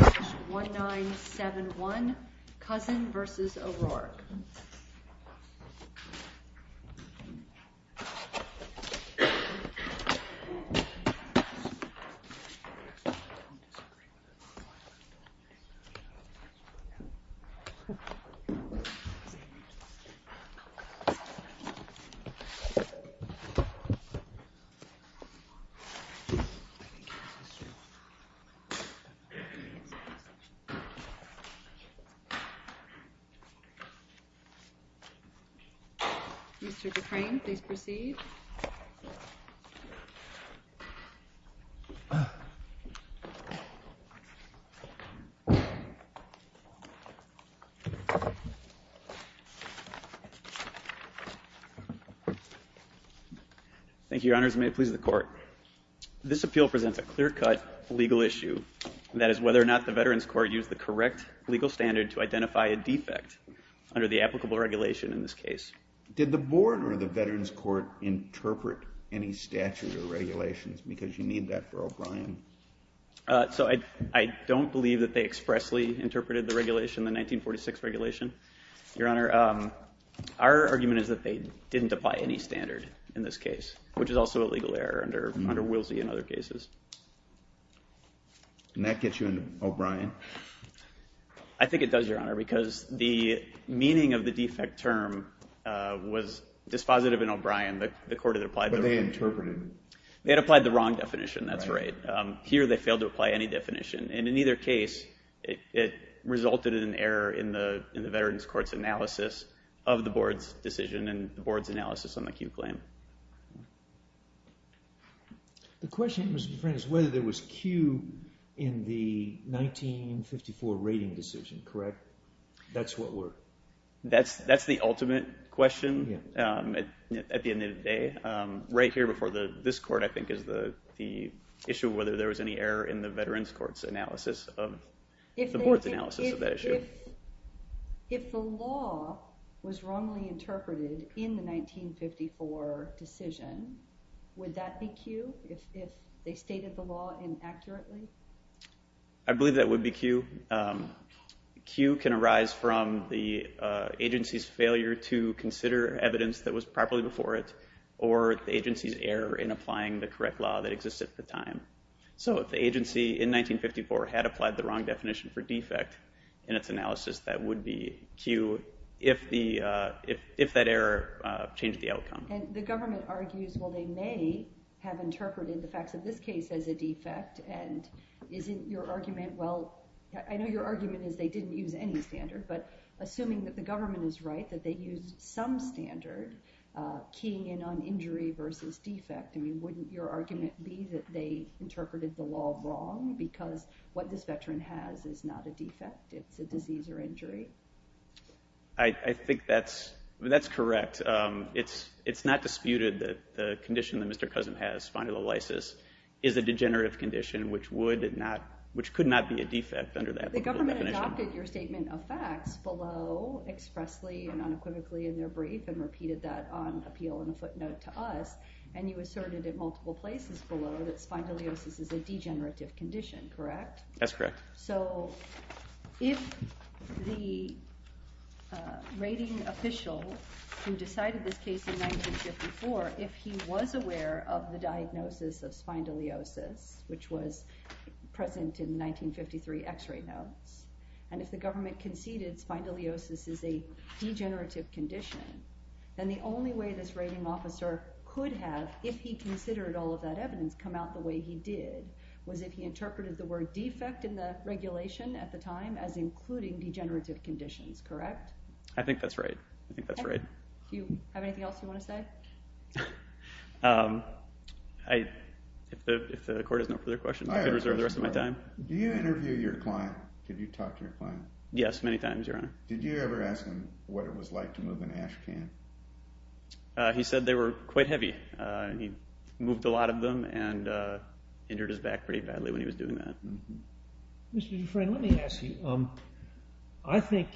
1971 Cousin v. O'Rourke Mr. Dufresne, please proceed. Thank you, Your Honors. This appeal presents a clear-cut legal issue. That is whether or not the Veterans Court used the correct legal standard to identify a defect under the applicable regulation in this case. Did the board or the Veterans Court interpret any statute or regulations? Because you need that for O'Brien. So I don't believe that they expressly interpreted the regulation, the 1946 regulation. Your Honor, our argument is that they didn't apply any standard in this case, which is also a legal error under Willsey and other cases. And that gets you into O'Brien. I think it does, Your Honor, because the meaning of the defect term was dispositive in O'Brien. The court had applied the wrong definition. That's right. Here, they failed to apply any definition. And in either case, it resulted in an error in the Veterans Court's analysis of the board's decision and the board's analysis on the Q claim. The question, Mr. Dufresne, is whether there was Q in the 1954 rating decision, correct? That's what we're. That's the ultimate question at the end of the day. Right here before this court, I think, is the issue of whether there was any error in the Veterans Court's analysis of the board's analysis of that issue. If the law was wrongly interpreted in the 1954 decision, would that be Q if they stated the law inaccurately? I believe that would be Q. Q can arise from the agency's failure to consider evidence that was properly before it or the agency's error in applying the correct law that existed at the time. So if the agency in 1954 had applied the wrong definition for defect in its analysis, that would be Q if that error changed the outcome. And the government argues, well, they may have interpreted the facts of this case as a defect. And isn't your argument, well, I know your argument is they didn't use any standard. But assuming that the government is right, that they used some standard keying in on injury versus defect, wouldn't your argument be that they interpreted the law wrong? Because what this veteran has is not a defect. It's a disease or injury. I think that's correct. It's not disputed that the condition that Mr. Cousin has, spondylolisis, is a degenerative condition, which could not be a defect under that definition. The government adopted your statement of facts below expressly and unequivocally in their brief and repeated that on appeal in a footnote to us. And you asserted in multiple places below that spondylolisis is a degenerative condition, correct? That's correct. So if the rating official who decided this case in 1954, if he was aware of the diagnosis of spondylolisis, which was present in 1953 x-ray notes, and if the government conceded spondylolisis is a degenerative condition, then the only way this rating officer could have, if he considered all of that evidence, come out the way he did was if he interpreted the word defect in the regulation at the time as including degenerative conditions, correct? I think that's right. I think that's right. Do you have anything else you want to say? If the court has no further questions, I could reserve the rest of my time. Do you interview your client? Did you talk to your client? Yes, many times, Your Honor. Did you ever ask him what it was like to move an ash can? He said they were quite heavy. He moved a lot of them and injured his back pretty badly when he was doing that. Mr. DeFran, let me ask you. I think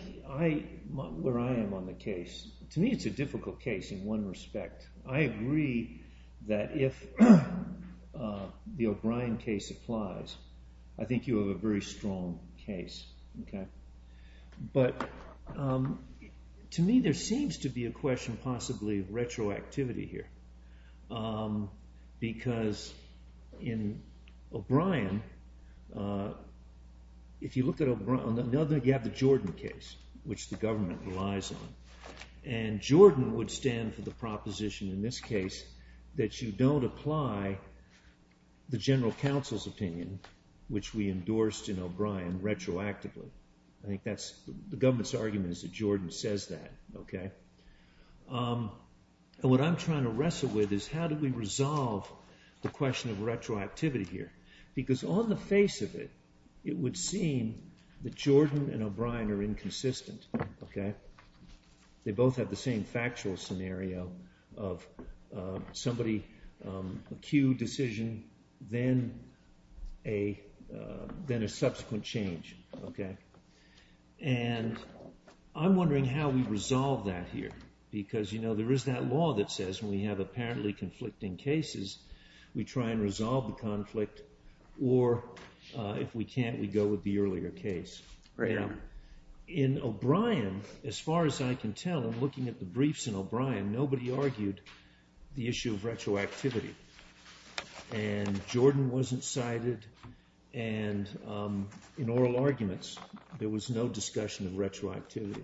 where I am on the case, to me it's a difficult case in one respect. I agree that if the O'Brien case applies, I think you have a very strong case. OK. But to me, there seems to be a question, possibly, of retroactivity here. Because in O'Brien, if you look at O'Brien, you have the Jordan case, which the government relies on. And Jordan would stand for the proposition in this case that you don't apply the general counsel's opinion, which we endorsed in O'Brien, retroactively. I think the government's argument is that Jordan says that. And what I'm trying to wrestle with is, how do we resolve the question of retroactivity here? Because on the face of it, it would seem that Jordan and O'Brien are inconsistent. They both have the same factual scenario of somebody, acute decision, then a subsequent change. And I'm wondering how we resolve that here. Because there is that law that says, when we have apparently conflicting cases, we try and resolve the conflict. Or if we can't, we go with the earlier case. In O'Brien, as far as I can tell, in looking at the briefs in O'Brien, nobody argued the issue of retroactivity. And Jordan wasn't cited. And in oral arguments, there was no discussion of retroactivity.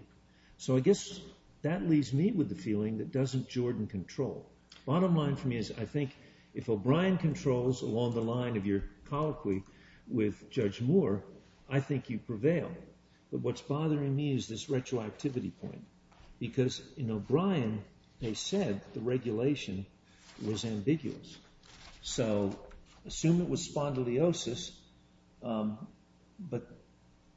So I guess that leaves me with the feeling that doesn't Jordan control. Bottom line for me is, I think if O'Brien controls along the line of your colloquy with Judge Moore, I think you prevail. But what's bothering me is this retroactivity point. Because in O'Brien, they said the regulation was ambiguous. So assume it was spondylosis, but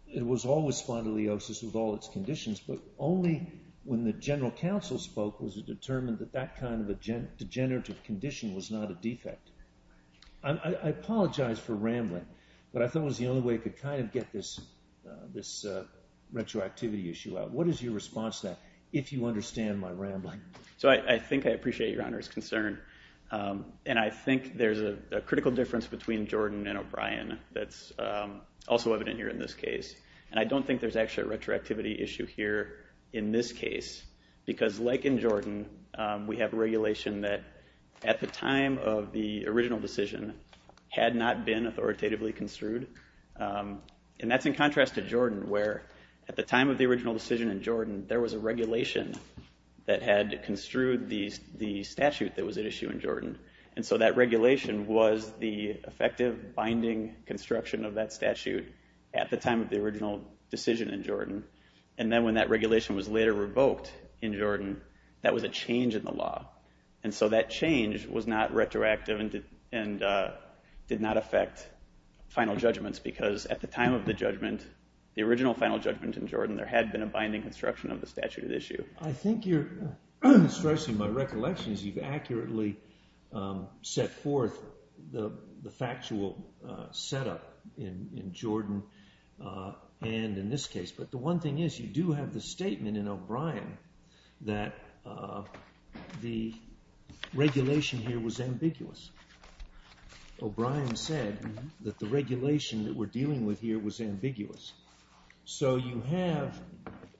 it was always spondylosis with all its conditions. But only when the general counsel spoke was it determined that that kind of a degenerative condition was not a defect. I apologize for rambling, but I thought it was the only way to get this retroactivity issue out. What is your response to that, if you understand my rambling? So I think I appreciate Your Honor's concern. And I think there's a critical difference between Jordan and O'Brien that's also evident here in this case. And I don't think there's actually a retroactivity issue here in this case. Because like in Jordan, we have a regulation that at the time of the original decision had not been authoritatively construed. And that's in contrast to Jordan, where at the time of the original decision in Jordan, there was a regulation that had construed the statute that was at issue in Jordan. And so that regulation was the effective binding construction of that statute at the time of the original decision in Jordan. And then when that regulation was later revoked in Jordan, that was a change in the law. And so that change was not retroactive and did not affect final judgments. Because at the time of the judgment, the original final judgment in Jordan, there had been a binding construction of the statute at issue. I think you're stressing my recollections. You've accurately set forth the factual setup in Jordan and in this case. But the one thing is, you do have the statement in O'Brien that the regulation here was ambiguous. O'Brien said that the regulation that we're dealing with here was ambiguous. So you have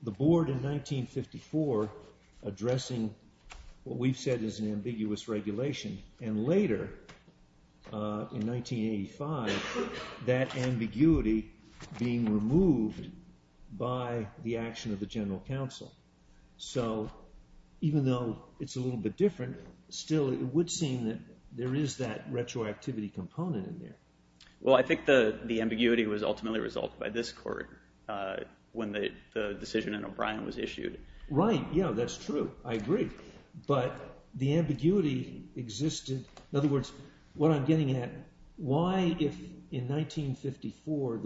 the board in 1954 addressing what we've said is an ambiguous regulation. And later, in 1985, that ambiguity being removed by the action of the general counsel. So even though it's a little bit different, still it would seem that there is that retroactivity component in there. Well, I think the ambiguity was ultimately resolved by this court when the decision in O'Brien was issued. Right, yeah, that's true. I agree. But the ambiguity existed. In other words, what I'm getting at, why if in 1954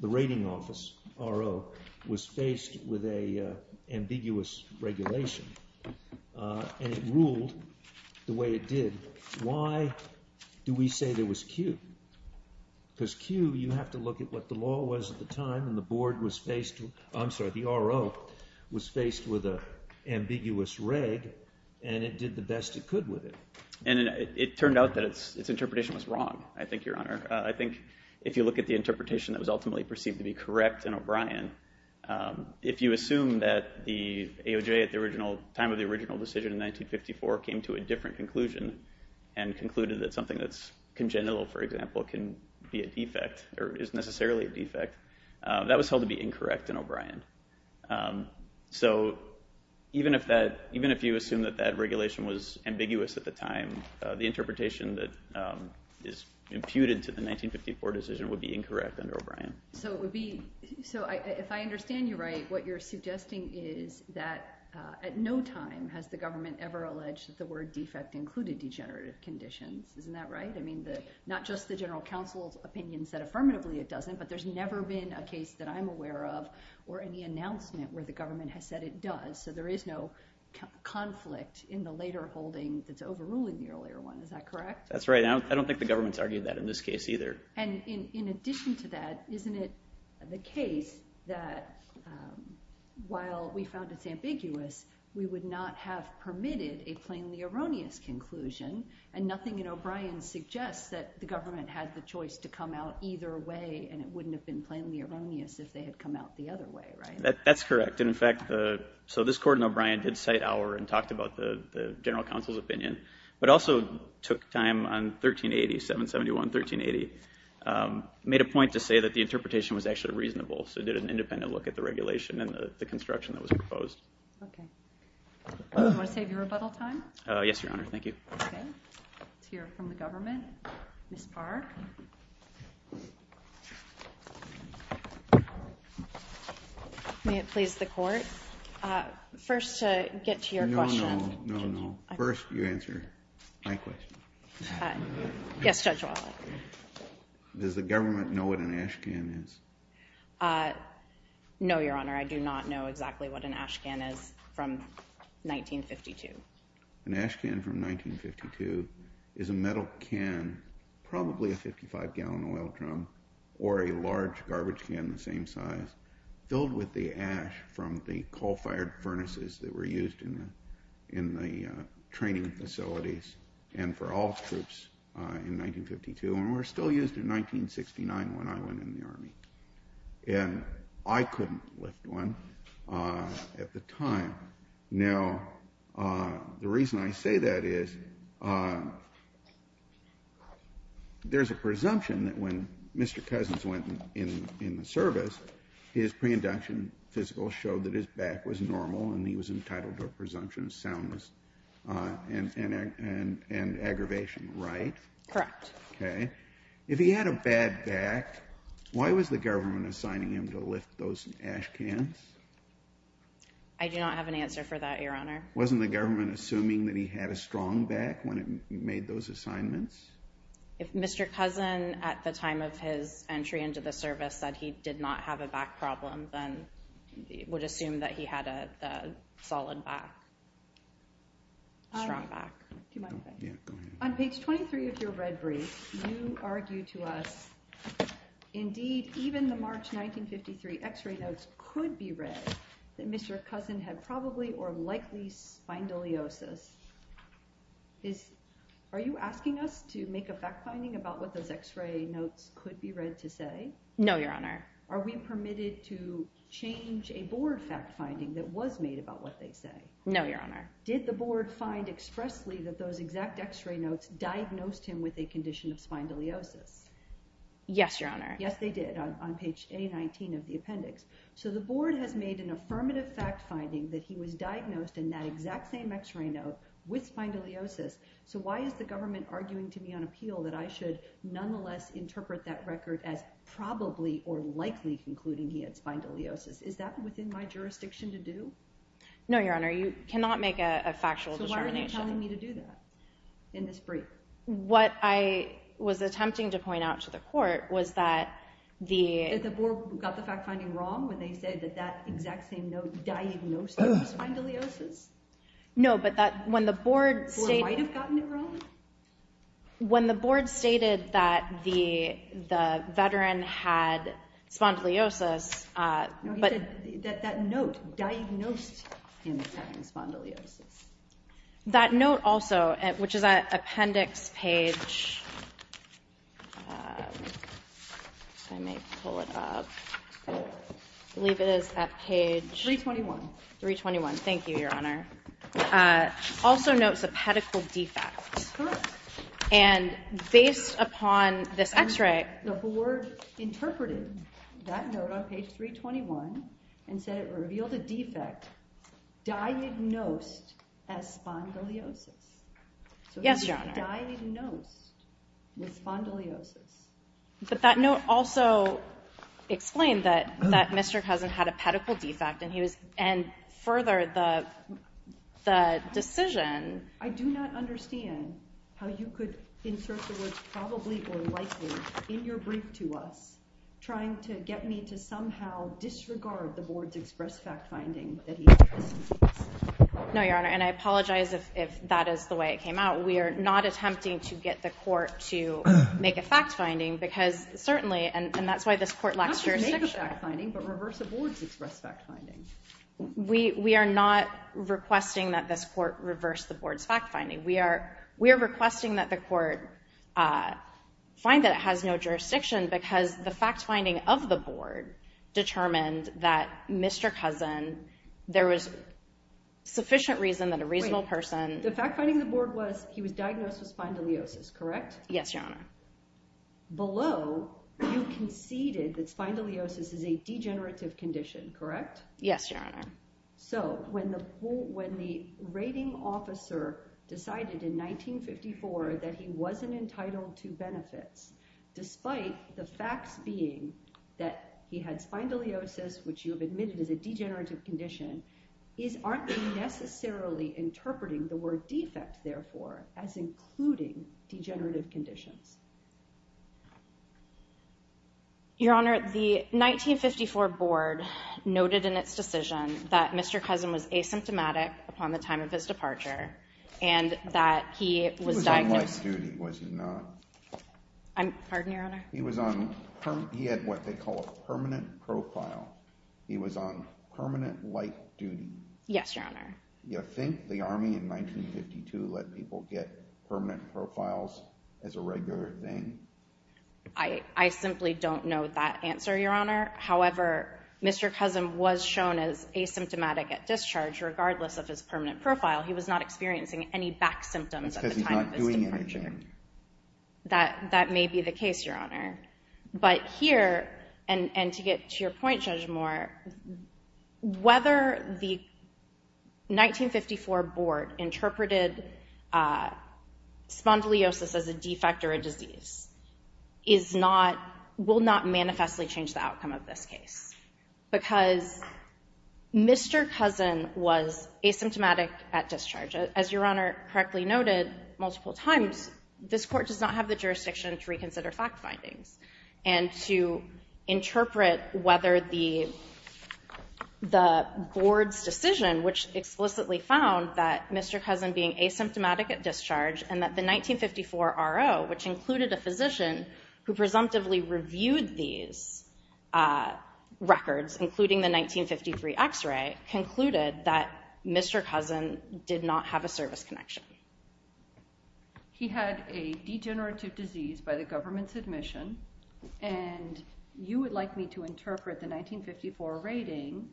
the rating office, RO, was faced with a ambiguous regulation and it ruled the way it did, why do we say there was Q? Because Q, you have to look at what the law was at the time, and the board was faced with, I'm sorry, the RO was faced with an ambiguous reg, and it did the best it could with it. And it turned out that its interpretation was wrong, I think, Your Honor. I think if you look at the interpretation that was ultimately perceived to be correct in O'Brien, if you assume that the AOJ at the time of the original decision in 1954 came to a different conclusion and concluded that something that's congenital, for example, can be a defect or is necessarily a defect, that was held to be incorrect in O'Brien. So even if you assume that that regulation was ambiguous at the time, the interpretation that is imputed to the 1954 decision would be incorrect under O'Brien. So if I understand you right, what you're suggesting is that at no time has the government ever alleged that the word defect included degenerative conditions. Isn't that right? I mean, not just the general counsel's opinion said affirmatively it doesn't, but there's never been a case that I'm aware of or any announcement where the government has said it does. So there is no conflict in the later holding that's overruling the earlier one. Is that correct? That's right. I don't think the government's argued that in this case either. And in addition to that, isn't it the case that while we found it's ambiguous, we would not have permitted a plainly erroneous conclusion? And nothing in O'Brien suggests that the government had the choice to come out either way, and it wouldn't have been plainly erroneous if they had come out the other way, right? That's correct. And in fact, so this court in O'Brien did cite Auer and talked about the general counsel's opinion, but also took time on 1380, 771, 1380, made a point to say that the interpretation was actually reasonable. So it did an independent look at the regulation and the construction that was proposed. OK. Do you want to save your rebuttal time? Yes, Your Honor. Thank you. OK. Let's hear from the government. Ms. Parr. May it please the court. First, to get to your question. No, no. No, no. First, you answer my question. Yes, Judge Wallet. Does the government know what an ashcan is? No, Your Honor. I do not know exactly what an ashcan is from 1952. An ashcan from 1952 is a metal can, probably a 55-gallon oil drum, or a large garbage can the same size, filled with the ash from the coal-fired furnaces that were used in the training facilities and for all troops in 1952. And were still used in 1969 when I went in the Army. And I couldn't lift one at the time. Now, the reason I say that is there's a presumption that when Mr. Cousins went in the service, his pre-induction physical showed that his back was normal and he was entitled to a presumption of soundness and aggravation, right? Correct. OK. If he had a bad back, why was the government assigning him to lift those ashcans? I do not have an answer for that, Your Honor. Wasn't the government assuming that he had a strong back when it made those assignments? If Mr. Cousin, at the time of his entry into the service, said he did not have a back problem, then it would assume that he had a solid back, strong back. On page 23 of your red brief, you argue to us, indeed, even the March 1953 x-ray notes could be read that Mr. Cousin had probably or likely spondylosis. Are you asking us to make a fact finding about what those x-ray notes could be read to say? No, Your Honor. Are we permitted to change a board fact finding that was made about what they say? No, Your Honor. Did the board find expressly that those exact x-ray notes diagnosed him with a condition of spondylosis? Yes, Your Honor. Yes, they did, on page A19 of the appendix. So the board has made an affirmative fact finding that he was diagnosed in that exact same x-ray note with spondylosis. So why is the government arguing to me on appeal that I should nonetheless interpret that record as probably or likely concluding he had spondylosis? Is that within my jurisdiction to do? No, Your Honor, you cannot make a factual determination. Why are you telling me to do that in this brief? What I was attempting to point out to the court was that the- That the board got the fact finding wrong when they said that that exact same note diagnosed him with spondylosis? No, but when the board stated- The board might have gotten it wrong? When the board stated that the veteran had spondylosis- No, you said that that note diagnosed him as having spondylosis. That note also, which is at appendix page, I may pull it up, I believe it is at page- 321. 321, thank you, Your Honor. Also notes a pedicle defect. Correct. And based upon this x-ray- The board interpreted that note on page 321 and said it revealed a defect diagnosed as spondylosis. Yes, Your Honor. So he was diagnosed with spondylosis. But that note also explained that Mr. Cousin had a pedicle defect and further the decision- I do not understand how you could insert the words probably or likely in your brief to us trying to get me to somehow disregard the board's express fact-finding that he- No, Your Honor, and I apologize if that is the way it came out. We are not attempting to get the court to make a fact-finding because certainly, and that's why this court lacks jurisdiction- Not just make a fact-finding, but reverse a board's express fact-finding. We are not requesting that this court reverse the board's fact-finding. We are requesting that the court find that it has no jurisdiction because the fact-finding of the board determined that Mr. Cousin, there was sufficient reason that a reasonable person- The fact-finding of the board was he was diagnosed with spondylosis, correct? Yes, Your Honor. Below, you conceded that spondylosis is a degenerative condition, correct? Yes, Your Honor. So when the rating officer decided in 1954 that he wasn't entitled to benefits, despite the facts being that he had spondylosis, which you have admitted is a degenerative condition, is, aren't they necessarily interpreting the word defect, therefore, as including degenerative conditions? Your Honor, the 1954 board noted in its decision upon the time of his departure and that he was diagnosed- He was on light duty, was he not? I'm, pardon, Your Honor? He was on, he had what they call a permanent profile. He was on permanent light duty. Yes, Your Honor. You think the Army in 1952 let people get permanent profiles as a regular thing? I simply don't know that answer, Your Honor. However, Mr. Cousin was shown as asymptomatic at discharge, regardless of his permanent profile. He was not experiencing any back symptoms at the time of his departure. That's because he's not doing anything. That may be the case, Your Honor. But here, and to get to your point, Judge Moore, whether the 1954 board interpreted spondylosis as a defect or a disease is not, will not manifestly change the outcome of this case. Because Mr. Cousin was asymptomatic at discharge. As Your Honor correctly noted multiple times, this court does not have the jurisdiction to reconsider fact findings. And to interpret whether the board's decision, which explicitly found that Mr. Cousin being asymptomatic at discharge, and that the 1954 RO, which included a physician who presumptively reviewed these records, including the 1953 x-ray, concluded that Mr. Cousin did not have a service connection. He had a degenerative disease by the government's admission. And you would like me to interpret the 1954 rating.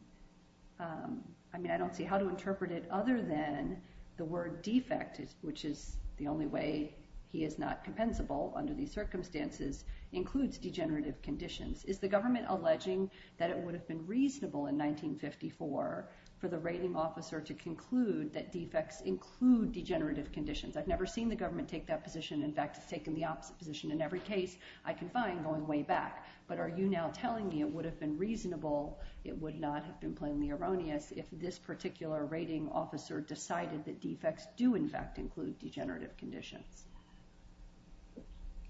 I mean, I don't see how to interpret it other than the word defect, which is the only way he is not compensable under these circumstances, includes degenerative conditions. Is the government alleging that it would have been reasonable in 1954 for the rating officer to conclude that defects include degenerative conditions? I've never seen the government take that position. In fact, it's taken the opposite position in every case I can find going way back. But are you now telling me it would have been reasonable, it would not have been plainly erroneous, if this particular rating officer decided that defects do, in fact, include degenerative conditions?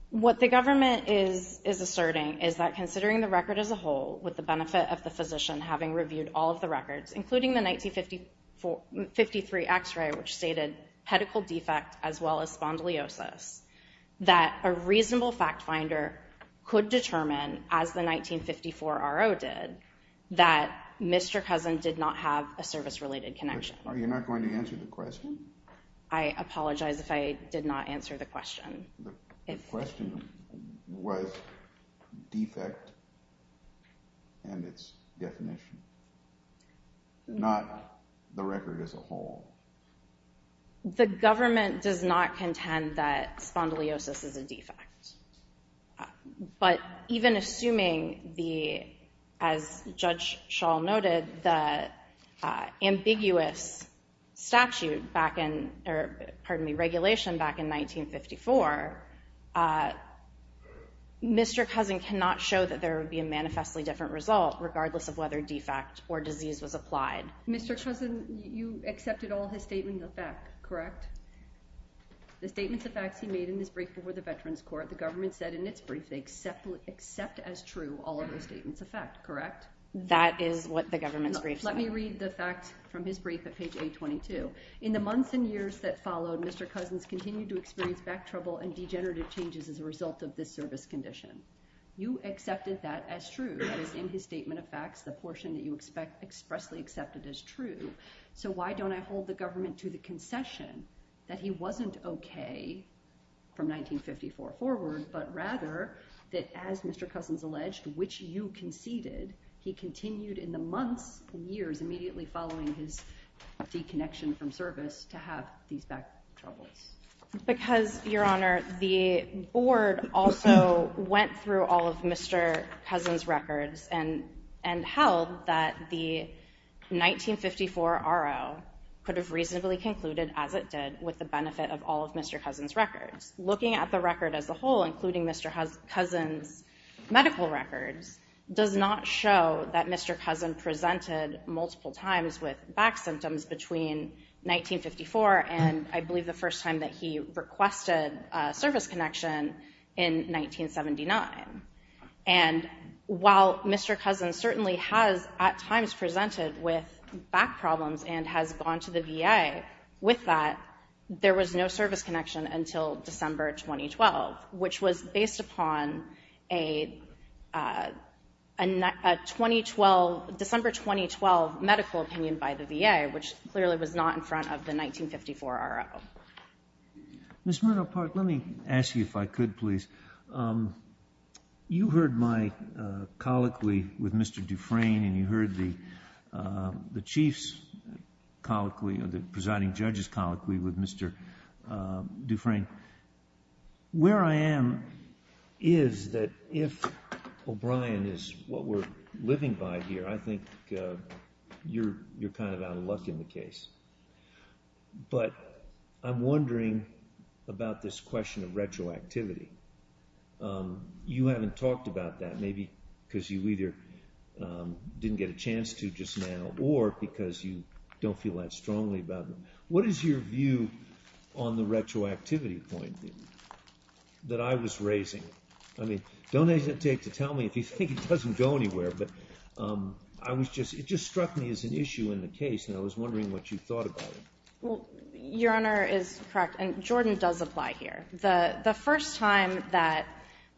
What the government is asserting is that considering the record as a whole, with the benefit of the physician having reviewed all of the records, including the 1953 x-ray, which stated pedicle defect as well as spondylosis, that a reasonable fact finder could determine, as the 1954 RO did, that Mr. Cousin did not have a service-related connection. Are you not going to answer the question? I apologize if I did not answer the question. The question was defect and its definition, not the record as a whole. The government does not contend that spondylosis is a defect. But even assuming the, as Judge Schall noted, the ambiguous statute back in, or pardon me, regulation back in 1954, Mr. Cousin cannot show that there would be a manifestly different result, regardless of whether defect or disease was applied. Mr. Cousin, you accepted all his statements of fact, correct? The statements of facts he made in his brief before the Veterans Court, the government said in its brief, they accept as true all of his statements of fact, correct? That is what the government's brief said. Let me read the fact from his brief at page 822. In the months and years that followed, Mr. Cousin's continued to experience back trouble and degenerative changes as a result of this service condition. You accepted that as true, that is in his statement of facts, the portion that you expressly accepted as true. So why don't I hold the government to the concession that he wasn't OK from 1954 forward, but rather that, as Mr. Cousin's alleged, which you conceded, he continued in the months and years immediately following his deconnection from service to have these back troubles? Because, Your Honor, the board also went through all of Mr. Cousin's records and held that the 1954 R.O. could have reasonably concluded, as it did, with the benefit of all of Mr. Cousin's records. Looking at the record as a whole, including Mr. Cousin's medical records, does not show that Mr. Cousin presented multiple times with back symptoms between 1954 and, I believe, the first time that he requested service connection in 1979. And while Mr. Cousin certainly has, at times, presented with back problems and has gone to the VA with that, there was no service connection until December 2012, which was based upon a December 2012 medical opinion by the VA, which clearly was not in front of the 1954 R.O. Ms. Murnau-Park, let me ask you, if I could, please. You heard my colloquy with Mr. Dufresne, and you heard the chief's colloquy, the presiding judge's colloquy with Mr. Dufresne. Where I am is that if O'Brien is what we're living by here, I think you're kind of out of luck in the case. But I'm wondering about this question of retroactivity. You haven't talked about that, maybe because you either didn't get a chance to just now or because you don't feel that strongly about it. What is your view on the retroactivity point that I was raising? I mean, don't hesitate to tell me if you think it doesn't go anywhere. But it just struck me as an issue in the case, and I was wondering what you thought about it. Your Honor is correct, and Jordan does apply here. The first time that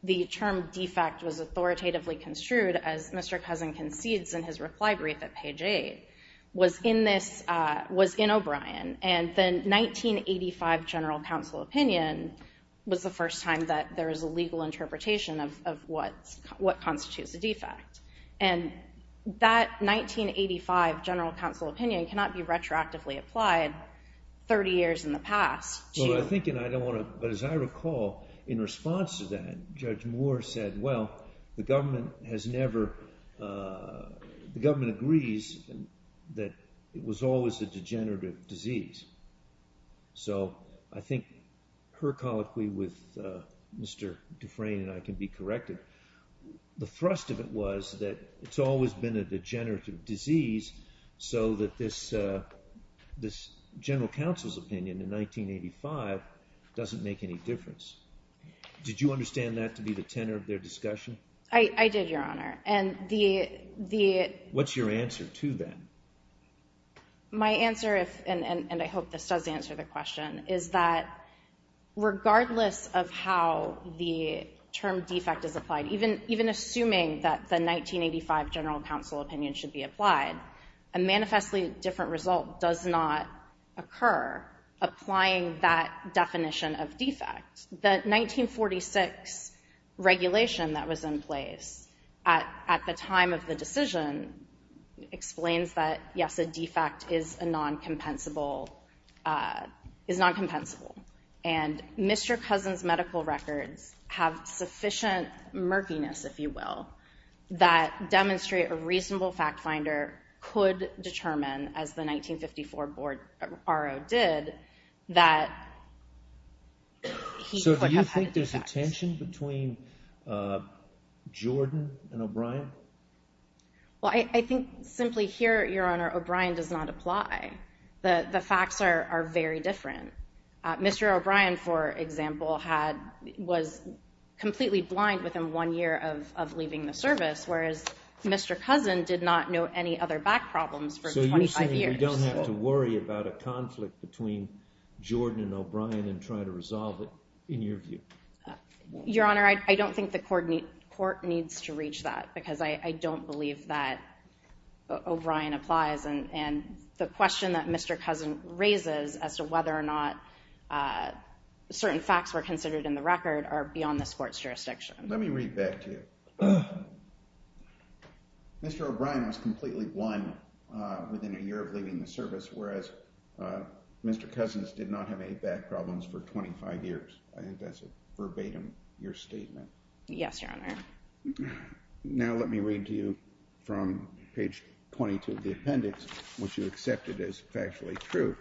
the term defect was authoritatively construed, as Mr. Cousin concedes in his reply brief at page 8, was in O'Brien. And the 1985 general counsel opinion was the first time that there was a legal interpretation of what constitutes a defect. And that 1985 general counsel opinion cannot be retroactively applied 30 years in the past to- Well, I think, and I don't want to, but as I recall, in response to that, well, the government has never, the government agrees that it was always a degenerative disease. So I think her colloquy with Mr. Dufresne, and I can be corrected, the thrust of it was that it's always been a degenerative disease, so that this general counsel's opinion in 1985 doesn't make any difference. Did you understand that to be the tenor of their discussion? I did, Your Honor. And the- What's your answer to that? My answer, and I hope this does answer the question, is that regardless of how the term defect is applied, even assuming that the 1985 general counsel opinion should be applied, a manifestly different result does not occur applying that definition of defect. The 1946 regulation that was in place at the time of the decision explains that, yes, a defect is a non-compensable, is non-compensable. And Mr. Cousin's medical records have sufficient murkiness, if you will, that demonstrate a reasonable fact finder could determine, as the 1954 R.O. did, that he could have had a defect. So do you think there's a tension between Jordan and O'Brien? Well, I think simply here, Your Honor, O'Brien does not apply. The facts are very different. Mr. O'Brien, for example, was completely blind within one year of leaving the service, whereas Mr. Cousin did not know any other back problems for 25 years. So you're saying we don't have to worry about a conflict between Jordan and O'Brien and try to resolve it, in your view? Your Honor, I don't think the court needs to reach that, because I don't believe that O'Brien applies. And the question that Mr. Cousin raises as to whether or not certain facts were considered in the record are beyond this court's jurisdiction. Let me read back to you. Mr. O'Brien was completely blind within a year of leaving the service, whereas Mr. Cousin did not have any back problems for 25 years. I think that's a verbatim, your statement. Yes, Your Honor. Now let me read to you from page 22 of the appendix, which you accepted as factually true.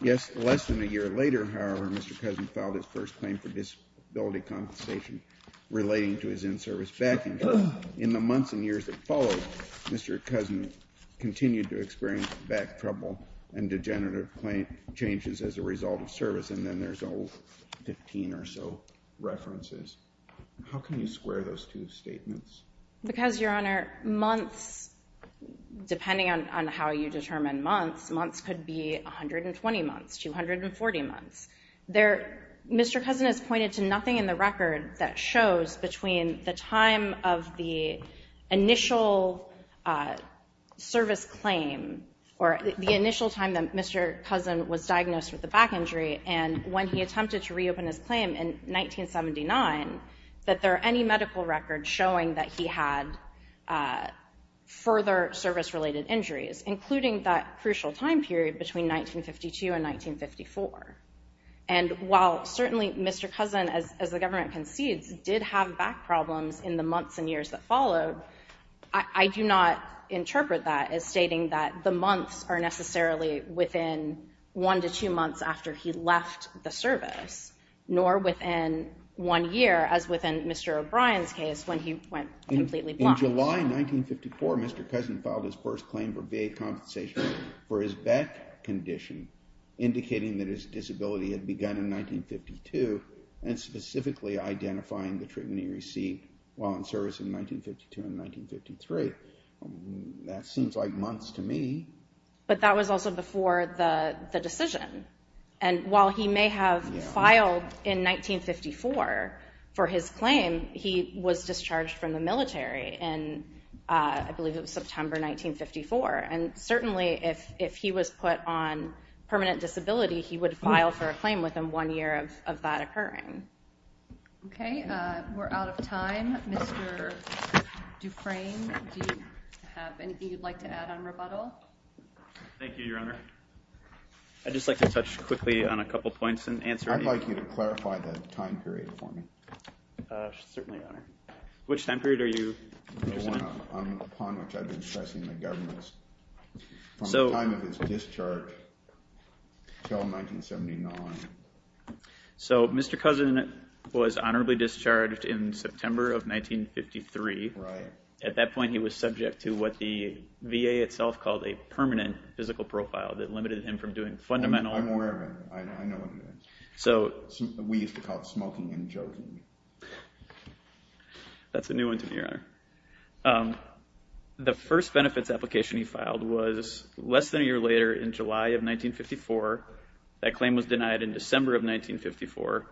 Yes, less than a year later, however, Mr. Cousin filed his first claim for disability compensation relating to his in-service back injury. In the months and years that followed, Mr. Cousin continued to experience back trouble and degenerative changes as a result of service. And then there's 15 or so references. How can you square those two statements? Because, Your Honor, months, depending on how you determine months, months could be 120 months, 240 months. Mr. Cousin has pointed to nothing in the record that shows between the time of the initial service claim, or the initial time that Mr. Cousin was diagnosed with a back injury and when he attempted to reopen his claim in 1979, that there are any medical records showing that he had further service-related injuries, including that crucial time period between 1952 and 1954. And while, certainly, Mr. Cousin, as the government concedes, did have back problems in the months and years that followed, I do not interpret that as stating that the months are necessarily within one to two months after he left the service, nor within one year, as within Mr. O'Brien's case when he went completely blind. In July 1954, Mr. Cousin filed his first claim for VA compensation for his back condition, indicating that his disability had begun in 1952, and specifically identifying the treatment he received while in service in 1952 and 1953. That seems like months to me. But that was also before the decision. And while he may have filed in 1954 for his claim, he was discharged from the military in, I believe it was September 1954. And certainly, if he was put on permanent disability, he would file for a claim within one year of that occurring. OK. We're out of time. Mr. Dufresne, do you have anything you'd like to add on rebuttal? Thank you, Your Honor. I'd just like to touch quickly on a couple points and answer any of them. I'd like you to clarify the time period for me. Certainly, Your Honor. Which time period are you using? The one upon which I've been stressing the government's, from the time of his discharge till 1979. So Mr. Cousin was honorably discharged in September of 1953. At that point, he was subject to what the VA itself called a permanent physical profile that limited him from doing fundamental. I'm aware of it. I know what you mean. We used to call it smoking and joking. That's a new one to me, Your Honor. The first benefits application he filed was less than a year later in July of 1954. That claim was denied in December of 1954.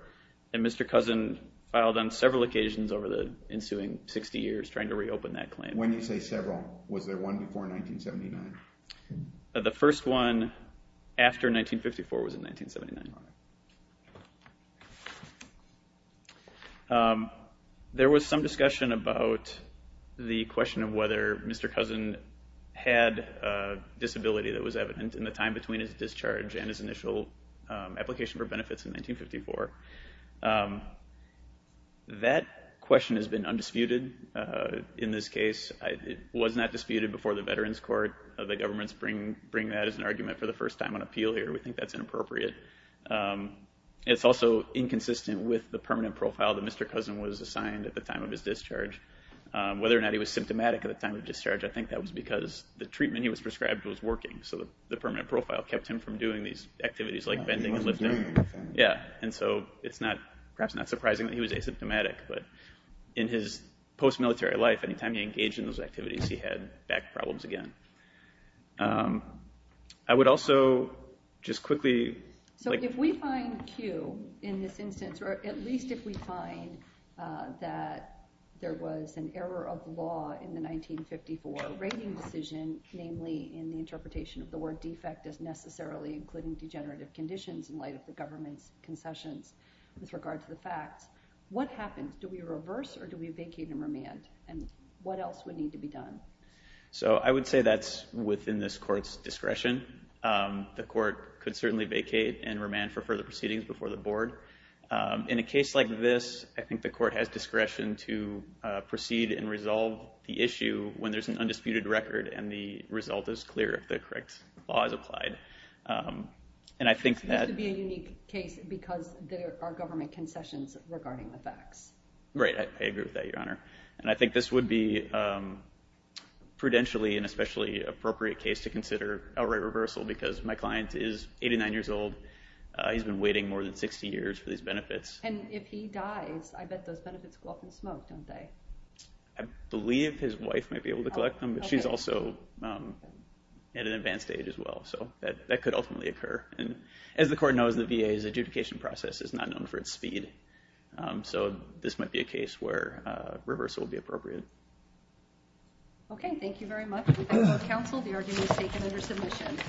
And Mr. Cousin filed on several occasions over the ensuing 60 years trying to reopen that claim. When you say several, was there one before 1979? The first one after 1954 was in 1979, Your Honor. There was some discussion about the question of whether Mr. Cousin had a disability that was evident in the time between his discharge and his initial application for benefits in 1954. That question has been undisputed in this case. It was not disputed before the Veterans Court. The government's bringing that as an argument for the first time on appeal here. We think that's inappropriate. It's also inconsistent with the permanent profile that Mr. Cousin was assigned at the time of his discharge. Whether or not he was symptomatic at the time of discharge, I think that was because the treatment he was prescribed was working. So the permanent profile kept him from doing these activities like bending and lifting. And so it's perhaps not surprising that he was asymptomatic. But in his post-military life, any time he engaged in those activities, he had back problems again. So if we find Q in this instance, or at least if we find that there was an error of law in the 1954 rating decision, namely in the interpretation of the word defect as necessarily including degenerative conditions in light of the government's concessions with regard to the facts, what happens? Do we reverse, or do we vacate and remand? And what else would need to be done? So I would say that's within this court's discretion. The court could certainly vacate and remand for further proceedings before the board. In a case like this, I think the court has discretion to proceed and resolve the issue when there's an undisputed record and the result is clear if the correct law is applied. And I think that- This would be a unique case because there are government concessions regarding the facts. Right, I agree with that, Your Honor. And I think this would be prudentially and especially appropriate case to consider outright reversal because my client is 89 years old. He's been waiting more than 60 years for these benefits. And if he dies, I bet those benefits go up in smoke, don't they? I believe his wife might be able to collect them, but she's also at an advanced age as well. So that could ultimately occur. And as the court knows, the VA's adjudication process is not known for its speed. So this might be a case where reversal would be appropriate. Okay, thank you very much. We thank both counsel. The argument is taken under submission.